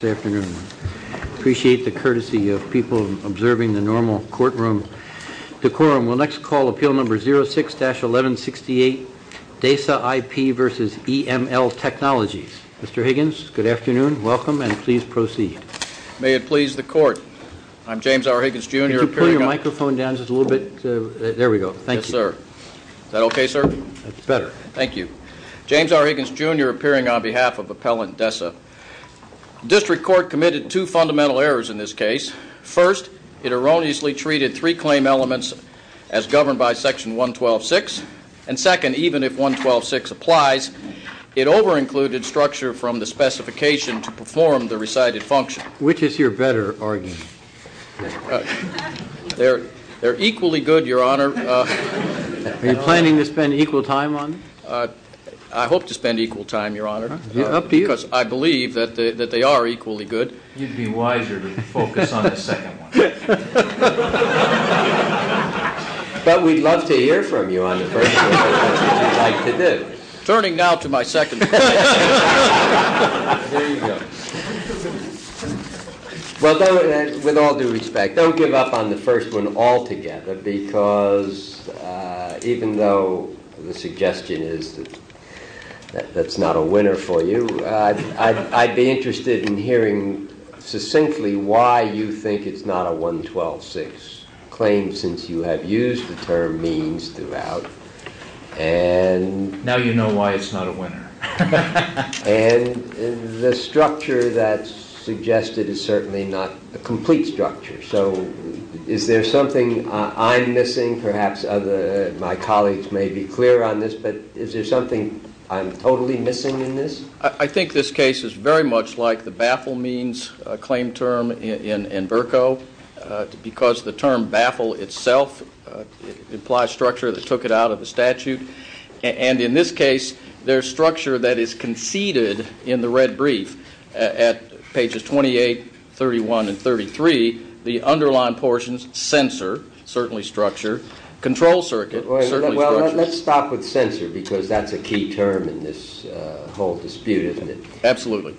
Good afternoon. I appreciate the courtesy of people observing the normal courtroom decorum. We'll next call appeal number 06-1168, Desa IP v. EML Technologies. Mr. Higgins, good afternoon. Welcome and please proceed. May it please the court. I'm James R. Higgins, Jr. appearing on behalf of Appellant Desa. District Court committed two fundamental errors in this case. First, it erroneously treated three claim elements as governed by Section 112.6. And second, even if 112.6 applies, it over-included structure from the specification to perform the recited function. Which is your better argument? They're equally good, Your Honor. Are you planning to spend equal time on them? I hope to spend equal time, Your Honor. Up to you. Because I believe that they are equally good. You'd be wiser to focus on the second one. But we'd love to hear from you on the first one. Turning now to my second point. There you go. Well, with all due respect, don't give up on the first one altogether because even though the suggestion is that that's not a winner for you, I'd be interested in hearing succinctly why you think it's not a 112.6 claim since you have used the term means throughout. Now you know why it's not a winner. And the structure that's suggested is certainly not a complete structure. So is there something I'm missing? Perhaps my colleagues may be clear on this, but is there something I'm totally missing in this? I think this case is very much like the baffle means claim term in Bercow because the term baffle itself implies structure that took it out of the statute. And in this case, there's structure that is conceded in the red brief at pages 28, 31, and 33. The underlying portions, sensor, certainly structure. Control circuit, certainly structure. But let's stop with sensor because that's a key term in this whole dispute, isn't it? Absolutely.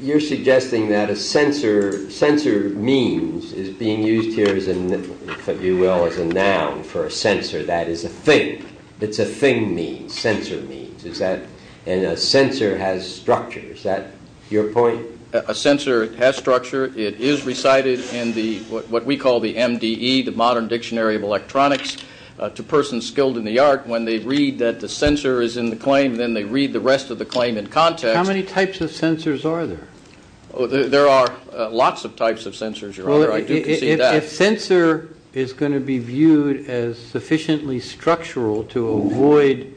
You're suggesting that a sensor means is being used here, if you will, as a noun for a sensor. That is a thing. It's a thing means, sensor means. And a sensor has structure. Is that your point? A sensor has structure. It is recited in what we call the MDE, the Modern Dictionary of Electronics. To persons skilled in the art, when they read that the sensor is in the claim, then they read the rest of the claim in context. How many types of sensors are there? If sensor is going to be viewed as sufficiently structural to avoid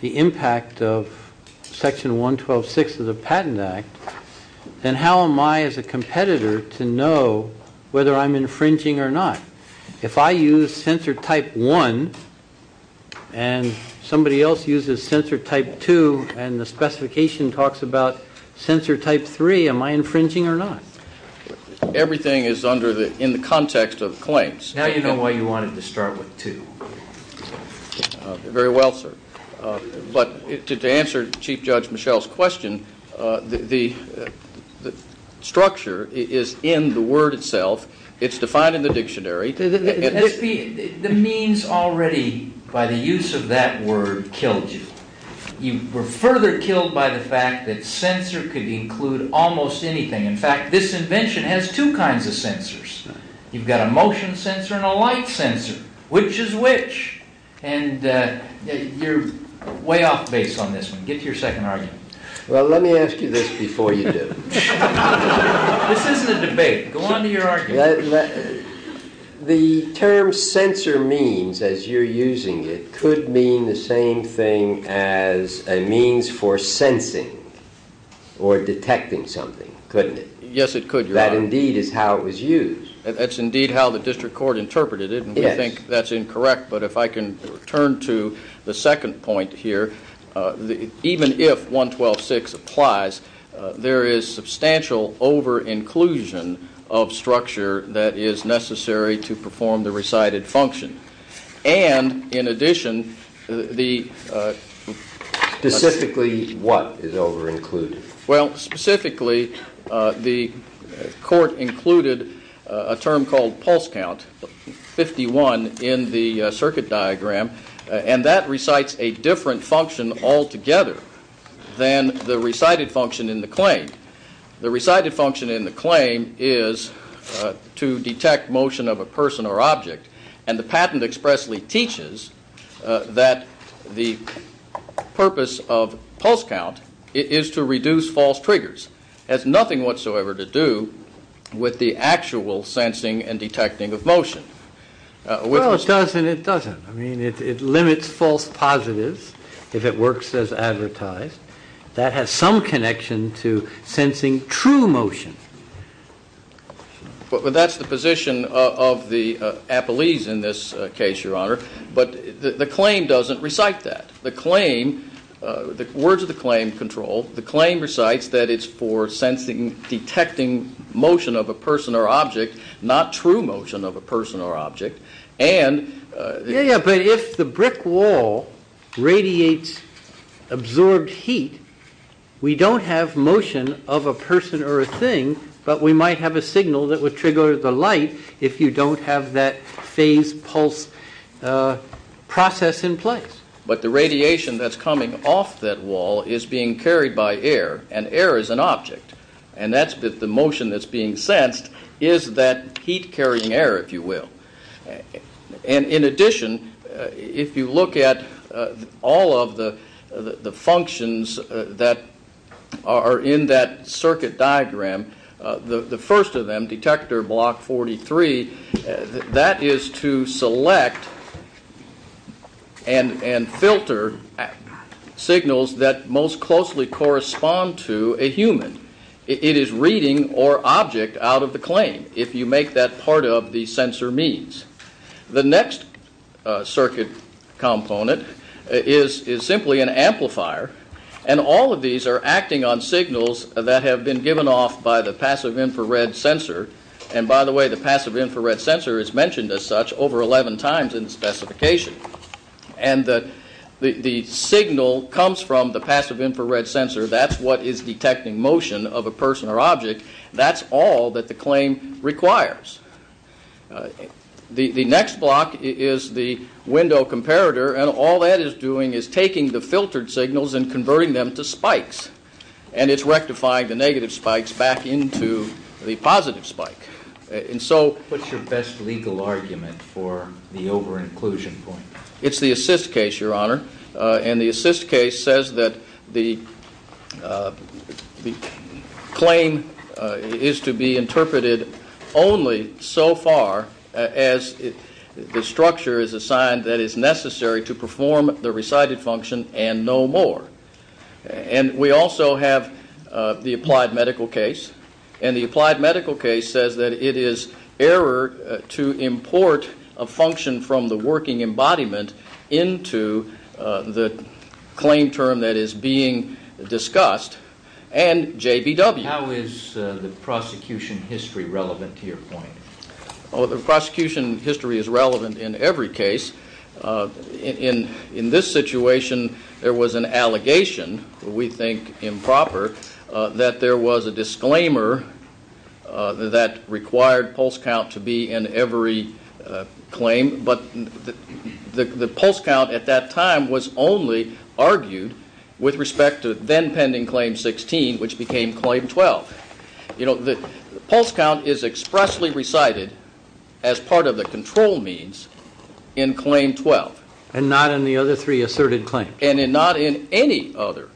the impact of Section 112.6 of the Patent Act, then how am I as a competitor to know whether I'm infringing or not? If I use sensor type 1 and somebody else uses sensor type 2 and the specification talks about sensor type 3, am I infringing or not? Everything is in the context of claims. Now you know why you wanted to start with 2. Very well, sir. But to answer Chief Judge Michel's question, the structure is in the word itself. It's defined in the dictionary. The means already by the use of that word killed you. You were further killed by the fact that sensor could include almost anything. In fact, this invention has two kinds of sensors. You've got a motion sensor and a light sensor. Which is which? And you're way off base on this one. Get to your second argument. Well, let me ask you this before you do. This isn't a debate. Go on to your argument. The term sensor means, as you're using it, could mean the same thing as a means for sensing or detecting something, couldn't it? Yes, it could, Your Honor. That indeed is how it was used. That's indeed how the district court interpreted it. And we think that's incorrect. But if I can turn to the second point here, even if 112.6 applies, there is substantial over-inclusion of structure that is necessary to perform the recited function. And in addition, the- Specifically what is over-included? Well, specifically, the court included a term called pulse count, 51, in the circuit diagram. And that recites a different function altogether than the recited function in the claim. The recited function in the claim is to detect motion of a person or object. And the patent expressly teaches that the purpose of pulse count is to reduce false triggers. It has nothing whatsoever to do with the actual sensing and detecting of motion. Well, it does and it doesn't. I mean, it limits false positives if it works as advertised. That has some connection to sensing true motion. But that's the position of the appellees in this case, Your Honor. But the claim doesn't recite that. The claim, the words of the claim control, the claim recites that it's for sensing, detecting motion of a person or object, not true motion of a person or object. Yeah, but if the brick wall radiates absorbed heat, we don't have motion of a person or a thing, but we might have a signal that would trigger the light if you don't have that phase pulse process in place. But the radiation that's coming off that wall is being carried by air, and air is an object. And that's the motion that's being sensed is that heat carrying air, if you will. And in addition, if you look at all of the functions that are in that circuit diagram, the first of them, detector block 43, that is to select and filter signals that most closely correspond to a human. It is reading or object out of the claim. If you make that part of the sensor means. The next circuit component is simply an amplifier. And all of these are acting on signals that have been given off by the passive infrared sensor. And by the way, the passive infrared sensor is mentioned as such over 11 times in the specification. And the signal comes from the passive infrared sensor. That's all that the claim requires. The next block is the window comparator. And all that is doing is taking the filtered signals and converting them to spikes. And it's rectifying the negative spikes back into the positive spike. And so. What's your best legal argument for the over inclusion point? It's the assist case, Your Honor. And the assist case says that the claim is to be interpreted only so far as the structure is assigned that is necessary to perform the recited function and no more. And we also have the applied medical case. And the applied medical case says that it is error to import a function from the working embodiment into the claim term that is being discussed. And J.B.W. How is the prosecution history relevant to your point? The prosecution history is relevant in every case. In this situation, there was an allegation, we think improper, that there was a disclaimer that required pulse count to be in every claim. But the pulse count at that time was only argued with respect to then pending claim 16, which became claim 12. The pulse count is expressly recited as part of the control means in claim 12. And not in the other three asserted claims. And not in any other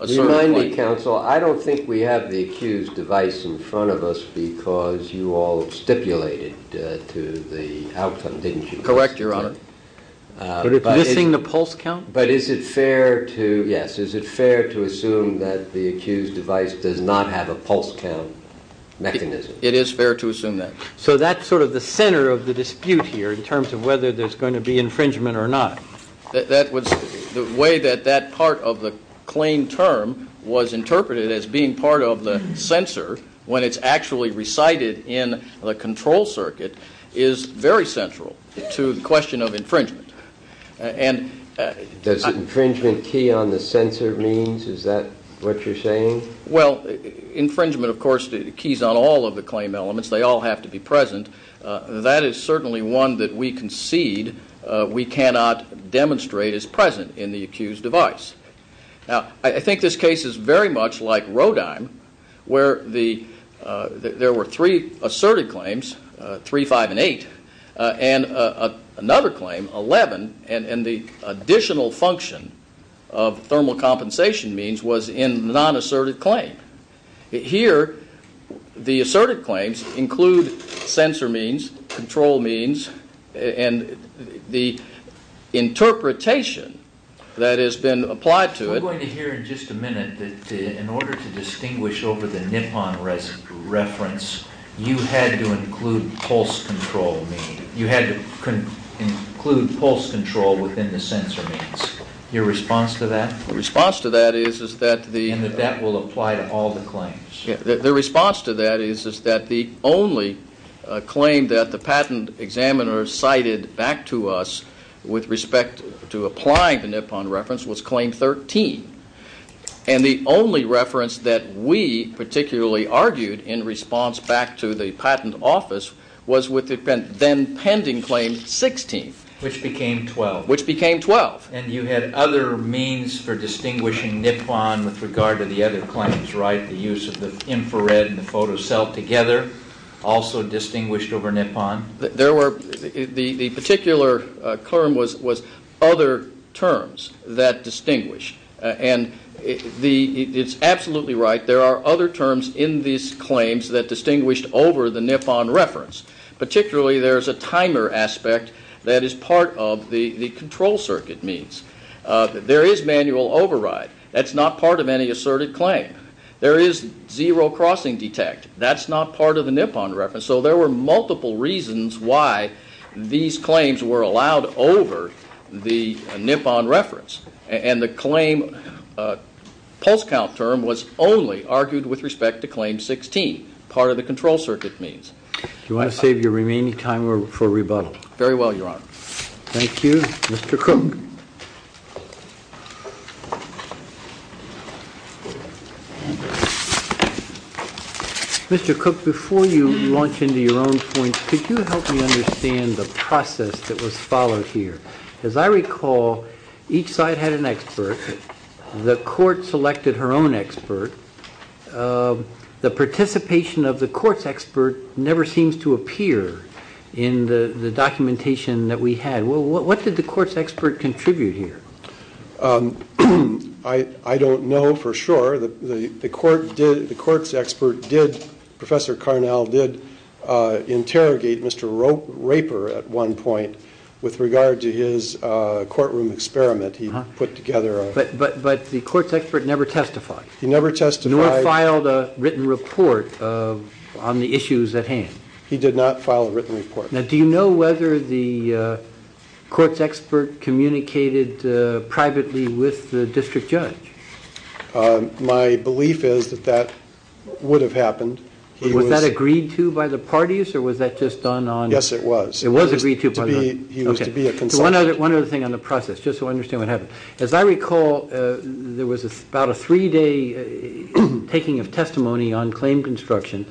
asserted claim. Remind me, counsel, I don't think we have the accused device in front of us because you all stipulated to the outcome, didn't you? Correct, Your Honor. Missing the pulse count? But is it fair to assume that the accused device does not have a pulse count mechanism? It is fair to assume that. So that's sort of the center of the dispute here in terms of whether there's going to be infringement or not. The way that that part of the claim term was interpreted as being part of the censor when it's actually recited in the control circuit is very central to the question of infringement. Does infringement key on the censor means? Is that what you're saying? Well, infringement, of course, keys on all of the claim elements. They all have to be present. That is certainly one that we concede we cannot demonstrate is present in the accused device. Now, I think this case is very much like Rodime where there were three asserted claims, three, five, and eight, and another claim, 11, and the additional function of thermal compensation means was in the non-asserted claim. Here, the asserted claims include censor means, control means, and the interpretation that has been applied to it. We're going to hear in just a minute that in order to distinguish over the Nippon reference, you had to include pulse control means. You had to include pulse control within the censor means. Your response to that? The response to that is that the— And that that will apply to all the claims. The response to that is that the only claim that the patent examiner cited back to us with respect to applying the Nippon reference was claim 13, and the only reference that we particularly argued in response back to the patent office was with the then pending claim 16. Which became 12. Which became 12. And you had other means for distinguishing Nippon with regard to the other claims, right? The use of the infrared and the photocell together also distinguished over Nippon? There were—the particular term was other terms that distinguish, and it's absolutely right. There are other terms in these claims that distinguished over the Nippon reference. Particularly there's a timer aspect that is part of the control circuit means. There is manual override. That's not part of any asserted claim. There is zero crossing detect. That's not part of the Nippon reference. So there were multiple reasons why these claims were allowed over the Nippon reference, and the claim pulse count term was only argued with respect to claim 16, part of the control circuit means. Do you want to save your remaining time for rebuttal? Very well, Your Honor. Thank you. Mr. Cook. Mr. Cook, before you launch into your own points, could you help me understand the process that was followed here? As I recall, each side had an expert. The court selected her own expert. The participation of the court's expert never seems to appear in the documentation that we had. What did the court's expert contribute here? I don't know for sure. The court's expert did, Professor Carnell did, interrogate Mr. Raper at one point with regard to his courtroom experiment he put together. But the court's expert never testified. He never testified. Nor filed a written report on the issues at hand. He did not file a written report. Now, do you know whether the court's expert communicated privately with the district judge? My belief is that that would have happened. Was that agreed to by the parties, or was that just done on? Yes, it was. It was agreed to. He was to be a consultant. One other thing on the process, just so I understand what happened. As I recall, there was about a three-day taking of testimony on claim construction.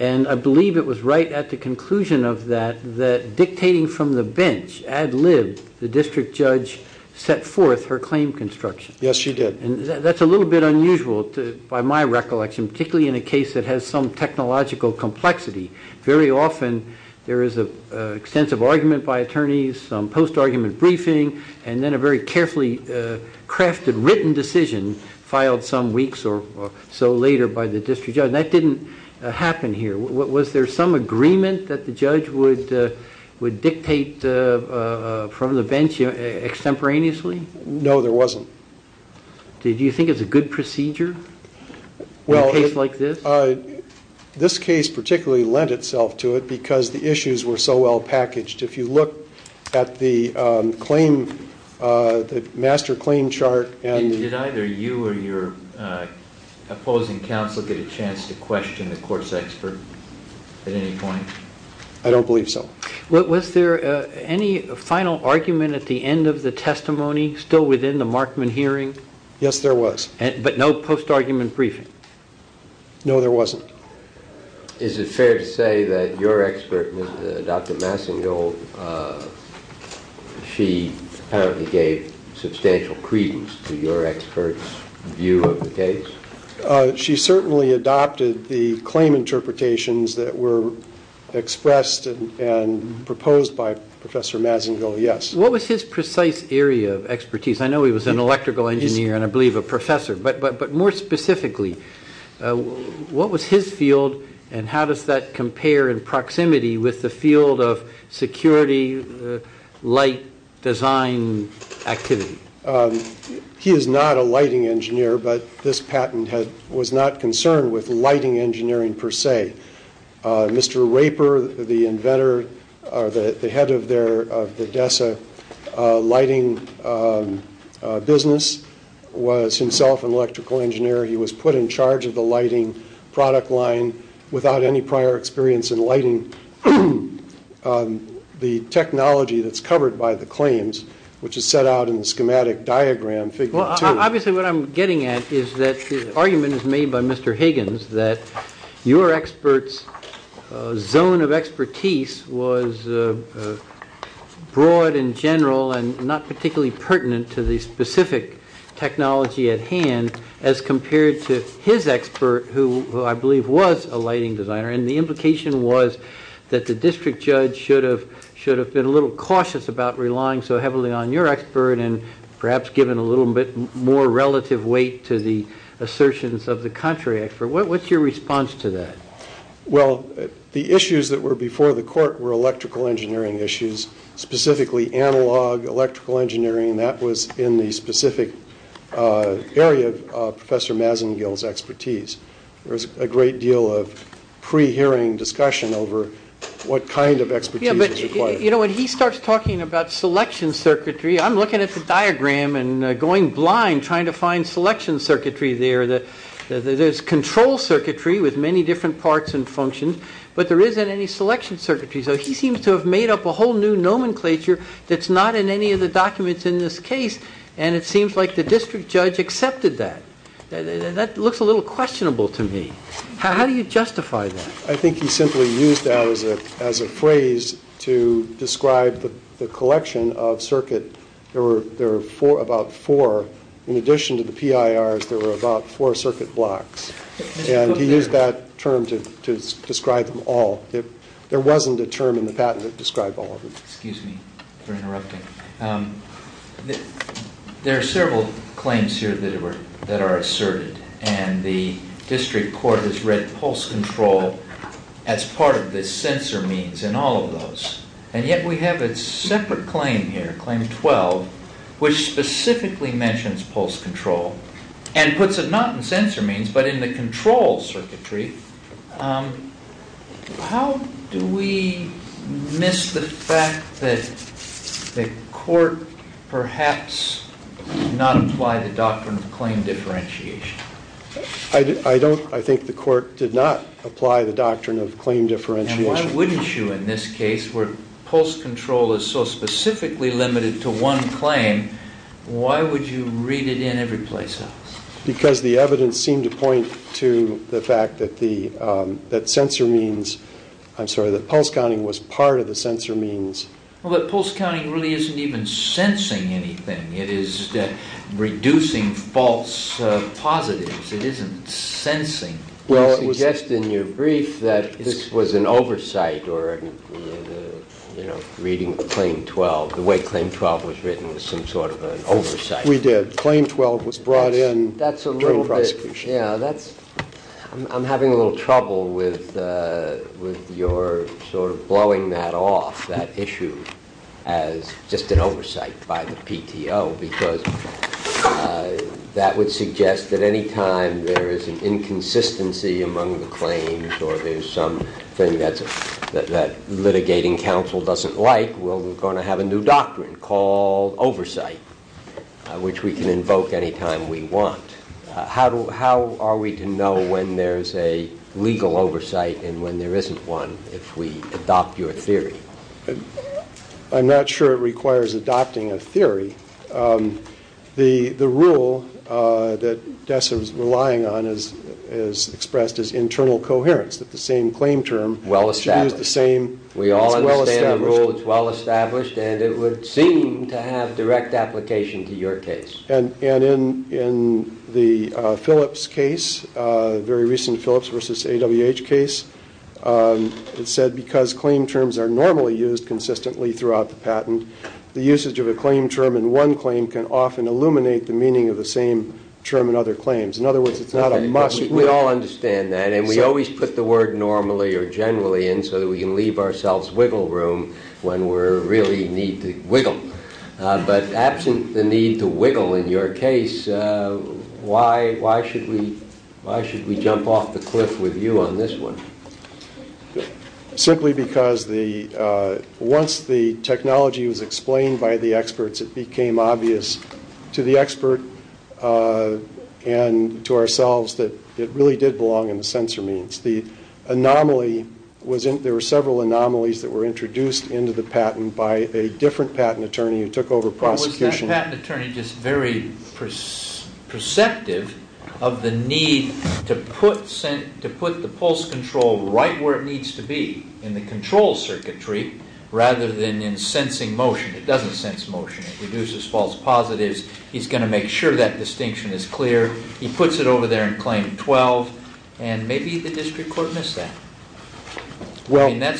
And I believe it was right at the conclusion of that that, dictating from the bench ad lib, the district judge set forth her claim construction. Yes, she did. And that's a little bit unusual by my recollection, particularly in a case that has some technological complexity. Very often there is an extensive argument by attorneys, some post-argument briefing, and then a very carefully crafted written decision filed some weeks or so later by the district judge. And that didn't happen here. Was there some agreement that the judge would dictate from the bench extemporaneously? No, there wasn't. Did you think it was a good procedure in a case like this? This case particularly lent itself to it because the issues were so well packaged. If you look at the master claim chart. Did either you or your opposing counsel get a chance to question the course expert at any point? I don't believe so. Was there any final argument at the end of the testimony, still within the Markman hearing? Yes, there was. But no post-argument briefing? No, there wasn't. Is it fair to say that your expert, Dr. Massingill, she apparently gave substantial credence to your expert's view of the case? She certainly adopted the claim interpretations that were expressed and proposed by Professor Massingill, yes. What was his precise area of expertise? I know he was an electrical engineer and I believe a professor. But more specifically, what was his field and how does that compare in proximity with the field of security, light design activity? He is not a lighting engineer, but this patent was not concerned with lighting engineering per se. Mr. Raper, the inventor or the head of the DESA lighting business, was himself an electrical engineer. He was put in charge of the lighting product line without any prior experience in lighting the technology that's covered by the claims, which is set out in the schematic diagram, figure two. Obviously what I'm getting at is that the argument is made by Mr. Higgins that your expert's zone of expertise was broad in general and not particularly pertinent to the specific technology at hand as compared to his expert, who I believe was a lighting designer. And the implication was that the district judge should have been a little cautious about relying so heavily on your expert and perhaps given a little bit more relative weight to the assertions of the contrary expert. What's your response to that? Well, the issues that were before the court were electrical engineering issues, specifically analog electrical engineering, and that was in the specific area of Professor Masengill's expertise. There was a great deal of pre-hearing discussion over what kind of expertise was required. You know, when he starts talking about selection circuitry, I'm looking at the diagram and going blind trying to find selection circuitry there. There's control circuitry with many different parts and functions, but there isn't any selection circuitry. So he seems to have made up a whole new nomenclature that's not in any of the documents in this case, and it seems like the district judge accepted that. That looks a little questionable to me. How do you justify that? I think he simply used that as a phrase to describe the collection of circuit. There were about four. In addition to the PIRs, there were about four circuit blocks, and he used that term to describe them all. There wasn't a term in the patent that described all of them. Excuse me for interrupting. There are several claims here that are asserted, and the district court has read pulse control as part of the sensor means in all of those, and yet we have a separate claim here, Claim 12, which specifically mentions pulse control and puts it not in sensor means but in the control circuitry. How do we miss the fact that the court perhaps did not apply the doctrine of claim differentiation? I think the court did not apply the doctrine of claim differentiation. Why wouldn't you in this case where pulse control is so specifically limited to one claim? Why would you read it in every place else? Because the evidence seemed to point to the fact that sensor means, I'm sorry, that pulse counting was part of the sensor means. But pulse counting really isn't even sensing anything. It is reducing false positives. It isn't sensing. You suggest in your brief that this was an oversight or reading Claim 12, the way Claim 12 was written was some sort of an oversight. We did. Claim 12 was brought in during prosecution. I'm having a little trouble with your sort of blowing that off, that issue, as just an oversight by the PTO, because that would suggest that any time there is an inconsistency among the claims or there's something that litigating counsel doesn't like, we're going to have a new doctrine called oversight, which we can invoke any time we want. How are we to know when there's a legal oversight and when there isn't one if we adopt your theory? I'm not sure it requires adopting a theory. The rule that Dessa was relying on is expressed as internal coherence, that the same claim term should use the same. Well established. I understand the rule. It's well established, and it would seem to have direct application to your case. And in the Phillips case, very recent Phillips v. AWH case, it said because claim terms are normally used consistently throughout the patent, the usage of a claim term in one claim can often illuminate the meaning of the same term in other claims. In other words, it's not a must. We all understand that, and we always put the word normally or generally in so that we can leave ourselves wiggle room when we really need to wiggle. But absent the need to wiggle in your case, why should we jump off the cliff with you on this one? Simply because once the technology was explained by the experts, it became obvious to the expert and to ourselves that it really did belong in the censor means. There were several anomalies that were introduced into the patent by a different patent attorney who took over prosecution. Was that patent attorney just very perceptive of the need to put the pulse control right where it needs to be in the control circuitry rather than in sensing motion? It doesn't sense motion. It reduces false positives. He's going to make sure that distinction is clear. He puts it over there in Claim 12, and maybe the district court missed that. That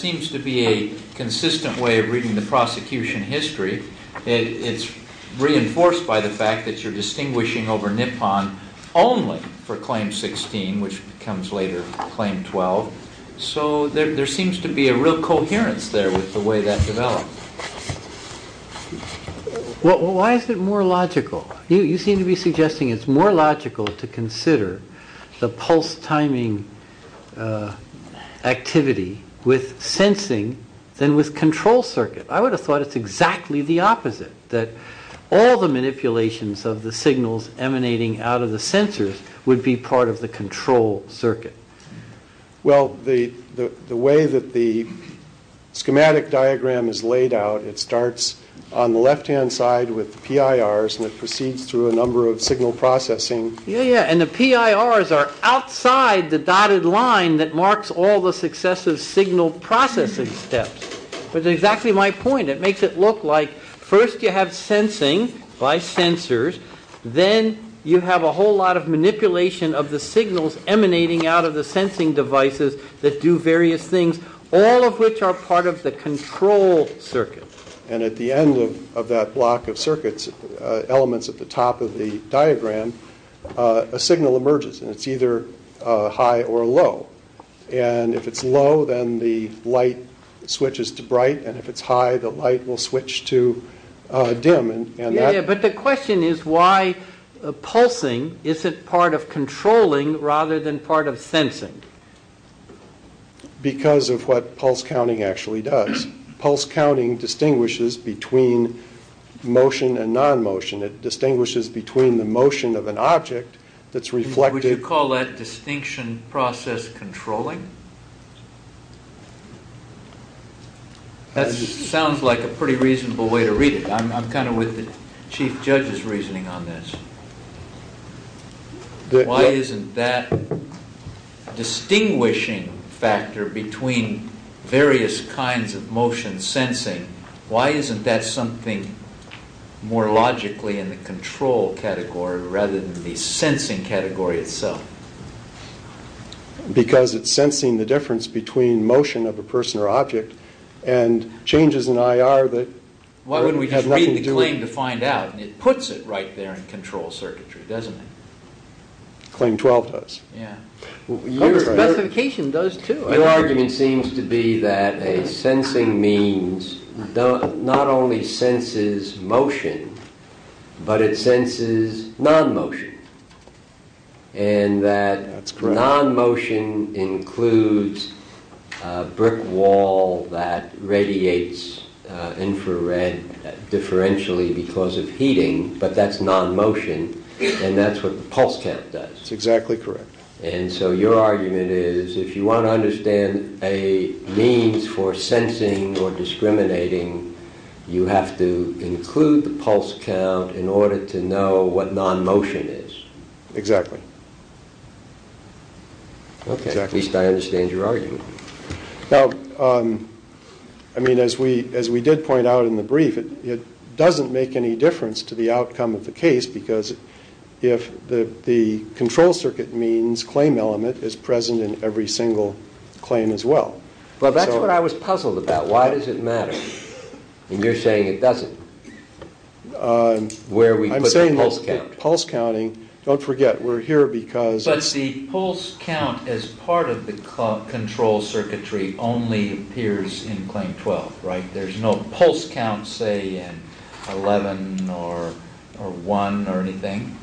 seems to be a consistent way of reading the prosecution history. It's reinforced by the fact that you're distinguishing over Nippon only for Claim 16, which becomes later Claim 12. So there seems to be a real coherence there with the way that developed. Why is it more logical? You seem to be suggesting it's more logical to consider the pulse timing activity with sensing than with control circuit. I would have thought it's exactly the opposite, that all the manipulations of the signals emanating out of the sensors would be part of the control circuit. Well, the way that the schematic diagram is laid out, it starts on the left-hand side with the PIRs, and it proceeds through a number of signal processing. Yeah, yeah, and the PIRs are outside the dotted line that marks all the successive signal processing steps. That's exactly my point. It makes it look like first you have sensing by sensors, then you have a whole lot of manipulation of the signals emanating out of the sensing devices that do various things, all of which are part of the control circuit. And at the end of that block of circuits, elements at the top of the diagram, a signal emerges, and it's either high or low. And if it's low, then the light switches to bright, and if it's high, the light will switch to dim. Yeah, yeah, but the question is why pulsing isn't part of controlling rather than part of sensing. Because of what pulse counting actually does. Pulse counting distinguishes between motion and non-motion. It distinguishes between the motion of an object that's reflected... Would you call that distinction process controlling? That sounds like a pretty reasonable way to read it. I'm kind of with the chief judge's reasoning on this. Why isn't that distinguishing factor between various kinds of motion sensing, why isn't that something more logically in the control category rather than the sensing category itself? Because it's sensing the difference between motion of a person or object and changes in IR that have nothing to do... Why wouldn't we just read the claim to find out? And it puts it right there in control circuitry, doesn't it? Claim 12 does. Your argument seems to be that a sensing means not only senses motion, but it senses non-motion. And that non-motion includes a brick wall that radiates infrared differentially because of heating, but that's non-motion, and that's what the pulse count does. That's exactly correct. And so your argument is, if you want to understand a means for sensing or discriminating, you have to include the pulse count in order to know what non-motion is. Exactly. At least I understand your argument. Now, I mean, as we did point out in the brief, it doesn't make any difference to the outcome of the case because if the control circuit means claim element is present in every single claim as well. Well, that's what I was puzzled about. Why does it matter? And you're saying it doesn't. I'm saying that pulse counting... Don't forget, we're here because... The pulse count as part of the control circuitry only appears in claim 12, right? There's no pulse count, say, in 11 or 1 or anything?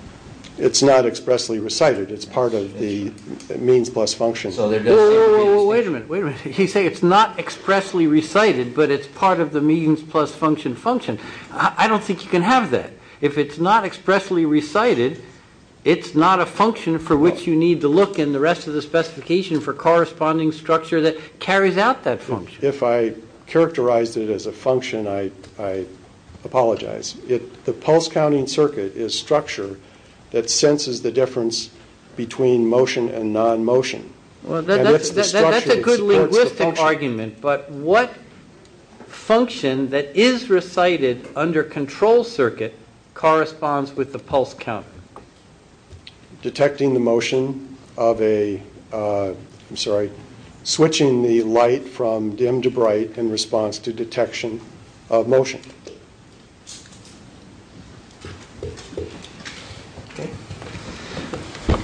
It's not expressly recited. It's part of the means plus function. Wait a minute. You say it's not expressly recited, but it's part of the means plus function function. I don't think you can have that. If it's not expressly recited, it's not a function for which you need to look in the rest of the specification for corresponding structure that carries out that function. If I characterized it as a function, I apologize. The pulse counting circuit is structure that senses the difference between motion and non-motion. That's a good linguistic argument, but what function that is recited under control circuit corresponds with the pulse count? Detecting the motion of a... I'm sorry, switching the light from dim to bright in response to detection of motion.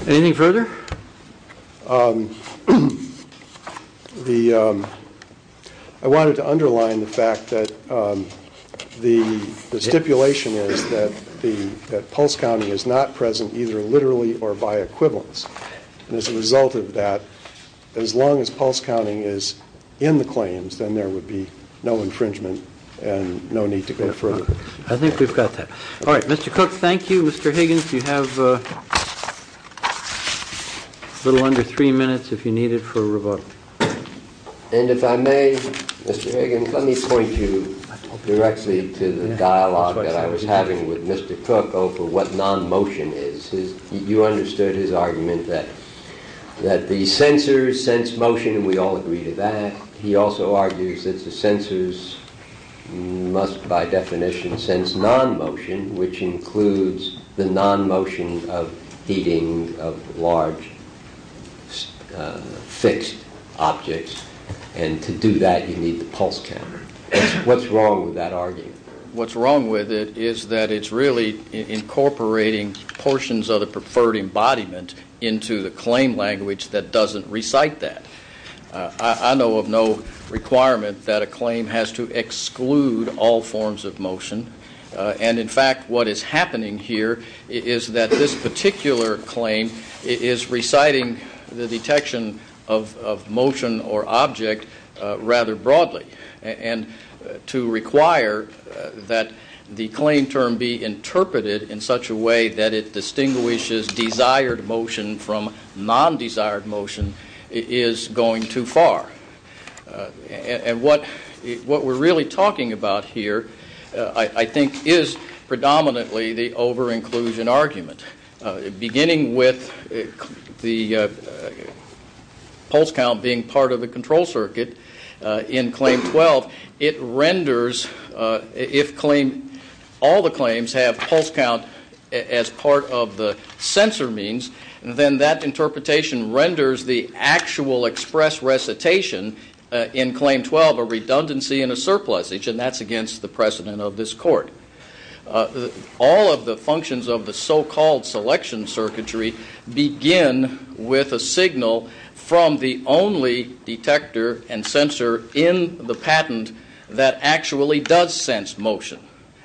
Anything further? I wanted to underline the fact that the stipulation is that pulse counting is not present either literally or by equivalence. As a result of that, as long as pulse counting is in the claims, then there would be no infringement and no need to go further. I think we've got that. All right, Mr. Cook, thank you. Mr. Higgins, you have a little under three minutes if you need it for rebuttal. And if I may, Mr. Higgins, let me point you directly to the dialogue that I was having with Mr. Cook over what non-motion is. You understood his argument that the sensors sense motion, and we all agree to that. He also argues that the sensors must by definition sense non-motion, which includes the non-motion of heating of large fixed objects. And to do that, you need the pulse counter. What's wrong with that argument? What's wrong with it is that it's really incorporating portions of the preferred embodiment into the claim language that doesn't recite that. I know of no requirement that a claim has to exclude all forms of motion. And, in fact, what is happening here is that this particular claim is reciting the detection of motion or object rather broadly. And to require that the claim term be interpreted in such a way that it distinguishes desired motion from non-desired motion is going too far. And what we're really talking about here, I think, is predominantly the over-inclusion argument, beginning with the pulse count being part of the control circuit in Claim 12. It renders, if all the claims have pulse count as part of the sensor means, then that interpretation renders the actual express recitation in Claim 12 a redundancy and a surplus, and that's against the precedent of this court. All of the functions of the so-called selection circuitry begin with a signal from the only detector and sensor in the patent that actually does sense motion,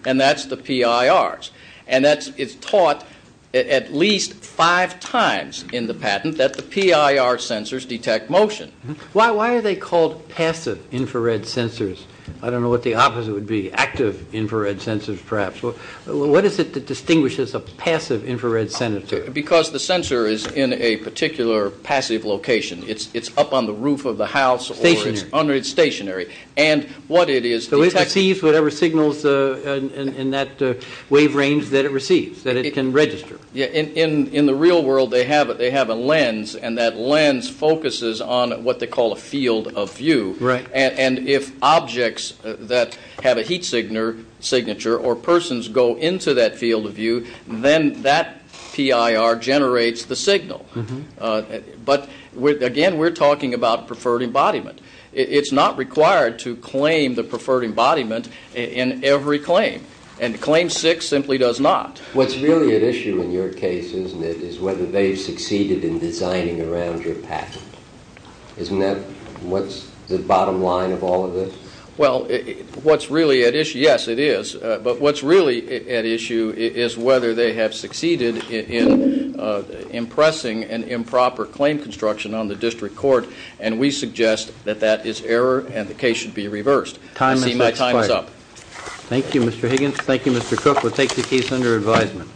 and that's the PIRs. And it's taught at least five times in the patent that the PIR sensors detect motion. Why are they called passive infrared sensors? I don't know what the opposite would be, active infrared sensors perhaps. What is it that distinguishes a passive infrared sensor? Because the sensor is in a particular passive location. It's up on the roof of the house or it's stationary. So it receives whatever signals in that wave range that it receives, that it can register. In the real world, they have a lens, and that lens focuses on what they call a field of view. And if objects that have a heat signature or persons go into that field of view, then that PIR generates the signal. But, again, we're talking about preferred embodiment. It's not required to claim the preferred embodiment in every claim. And Claim 6 simply does not. What's really at issue in your case, isn't it, is whether they've succeeded in designing around your patent. Isn't that what's the bottom line of all of this? Well, what's really at issue, yes, it is, but what's really at issue is whether they have succeeded in impressing an improper claim construction on the district court. And we suggest that that is error and the case should be reversed. I see my time is up. Thank you, Mr. Higgins. Thank you, Mr. Cook. We'll take the case under advisement.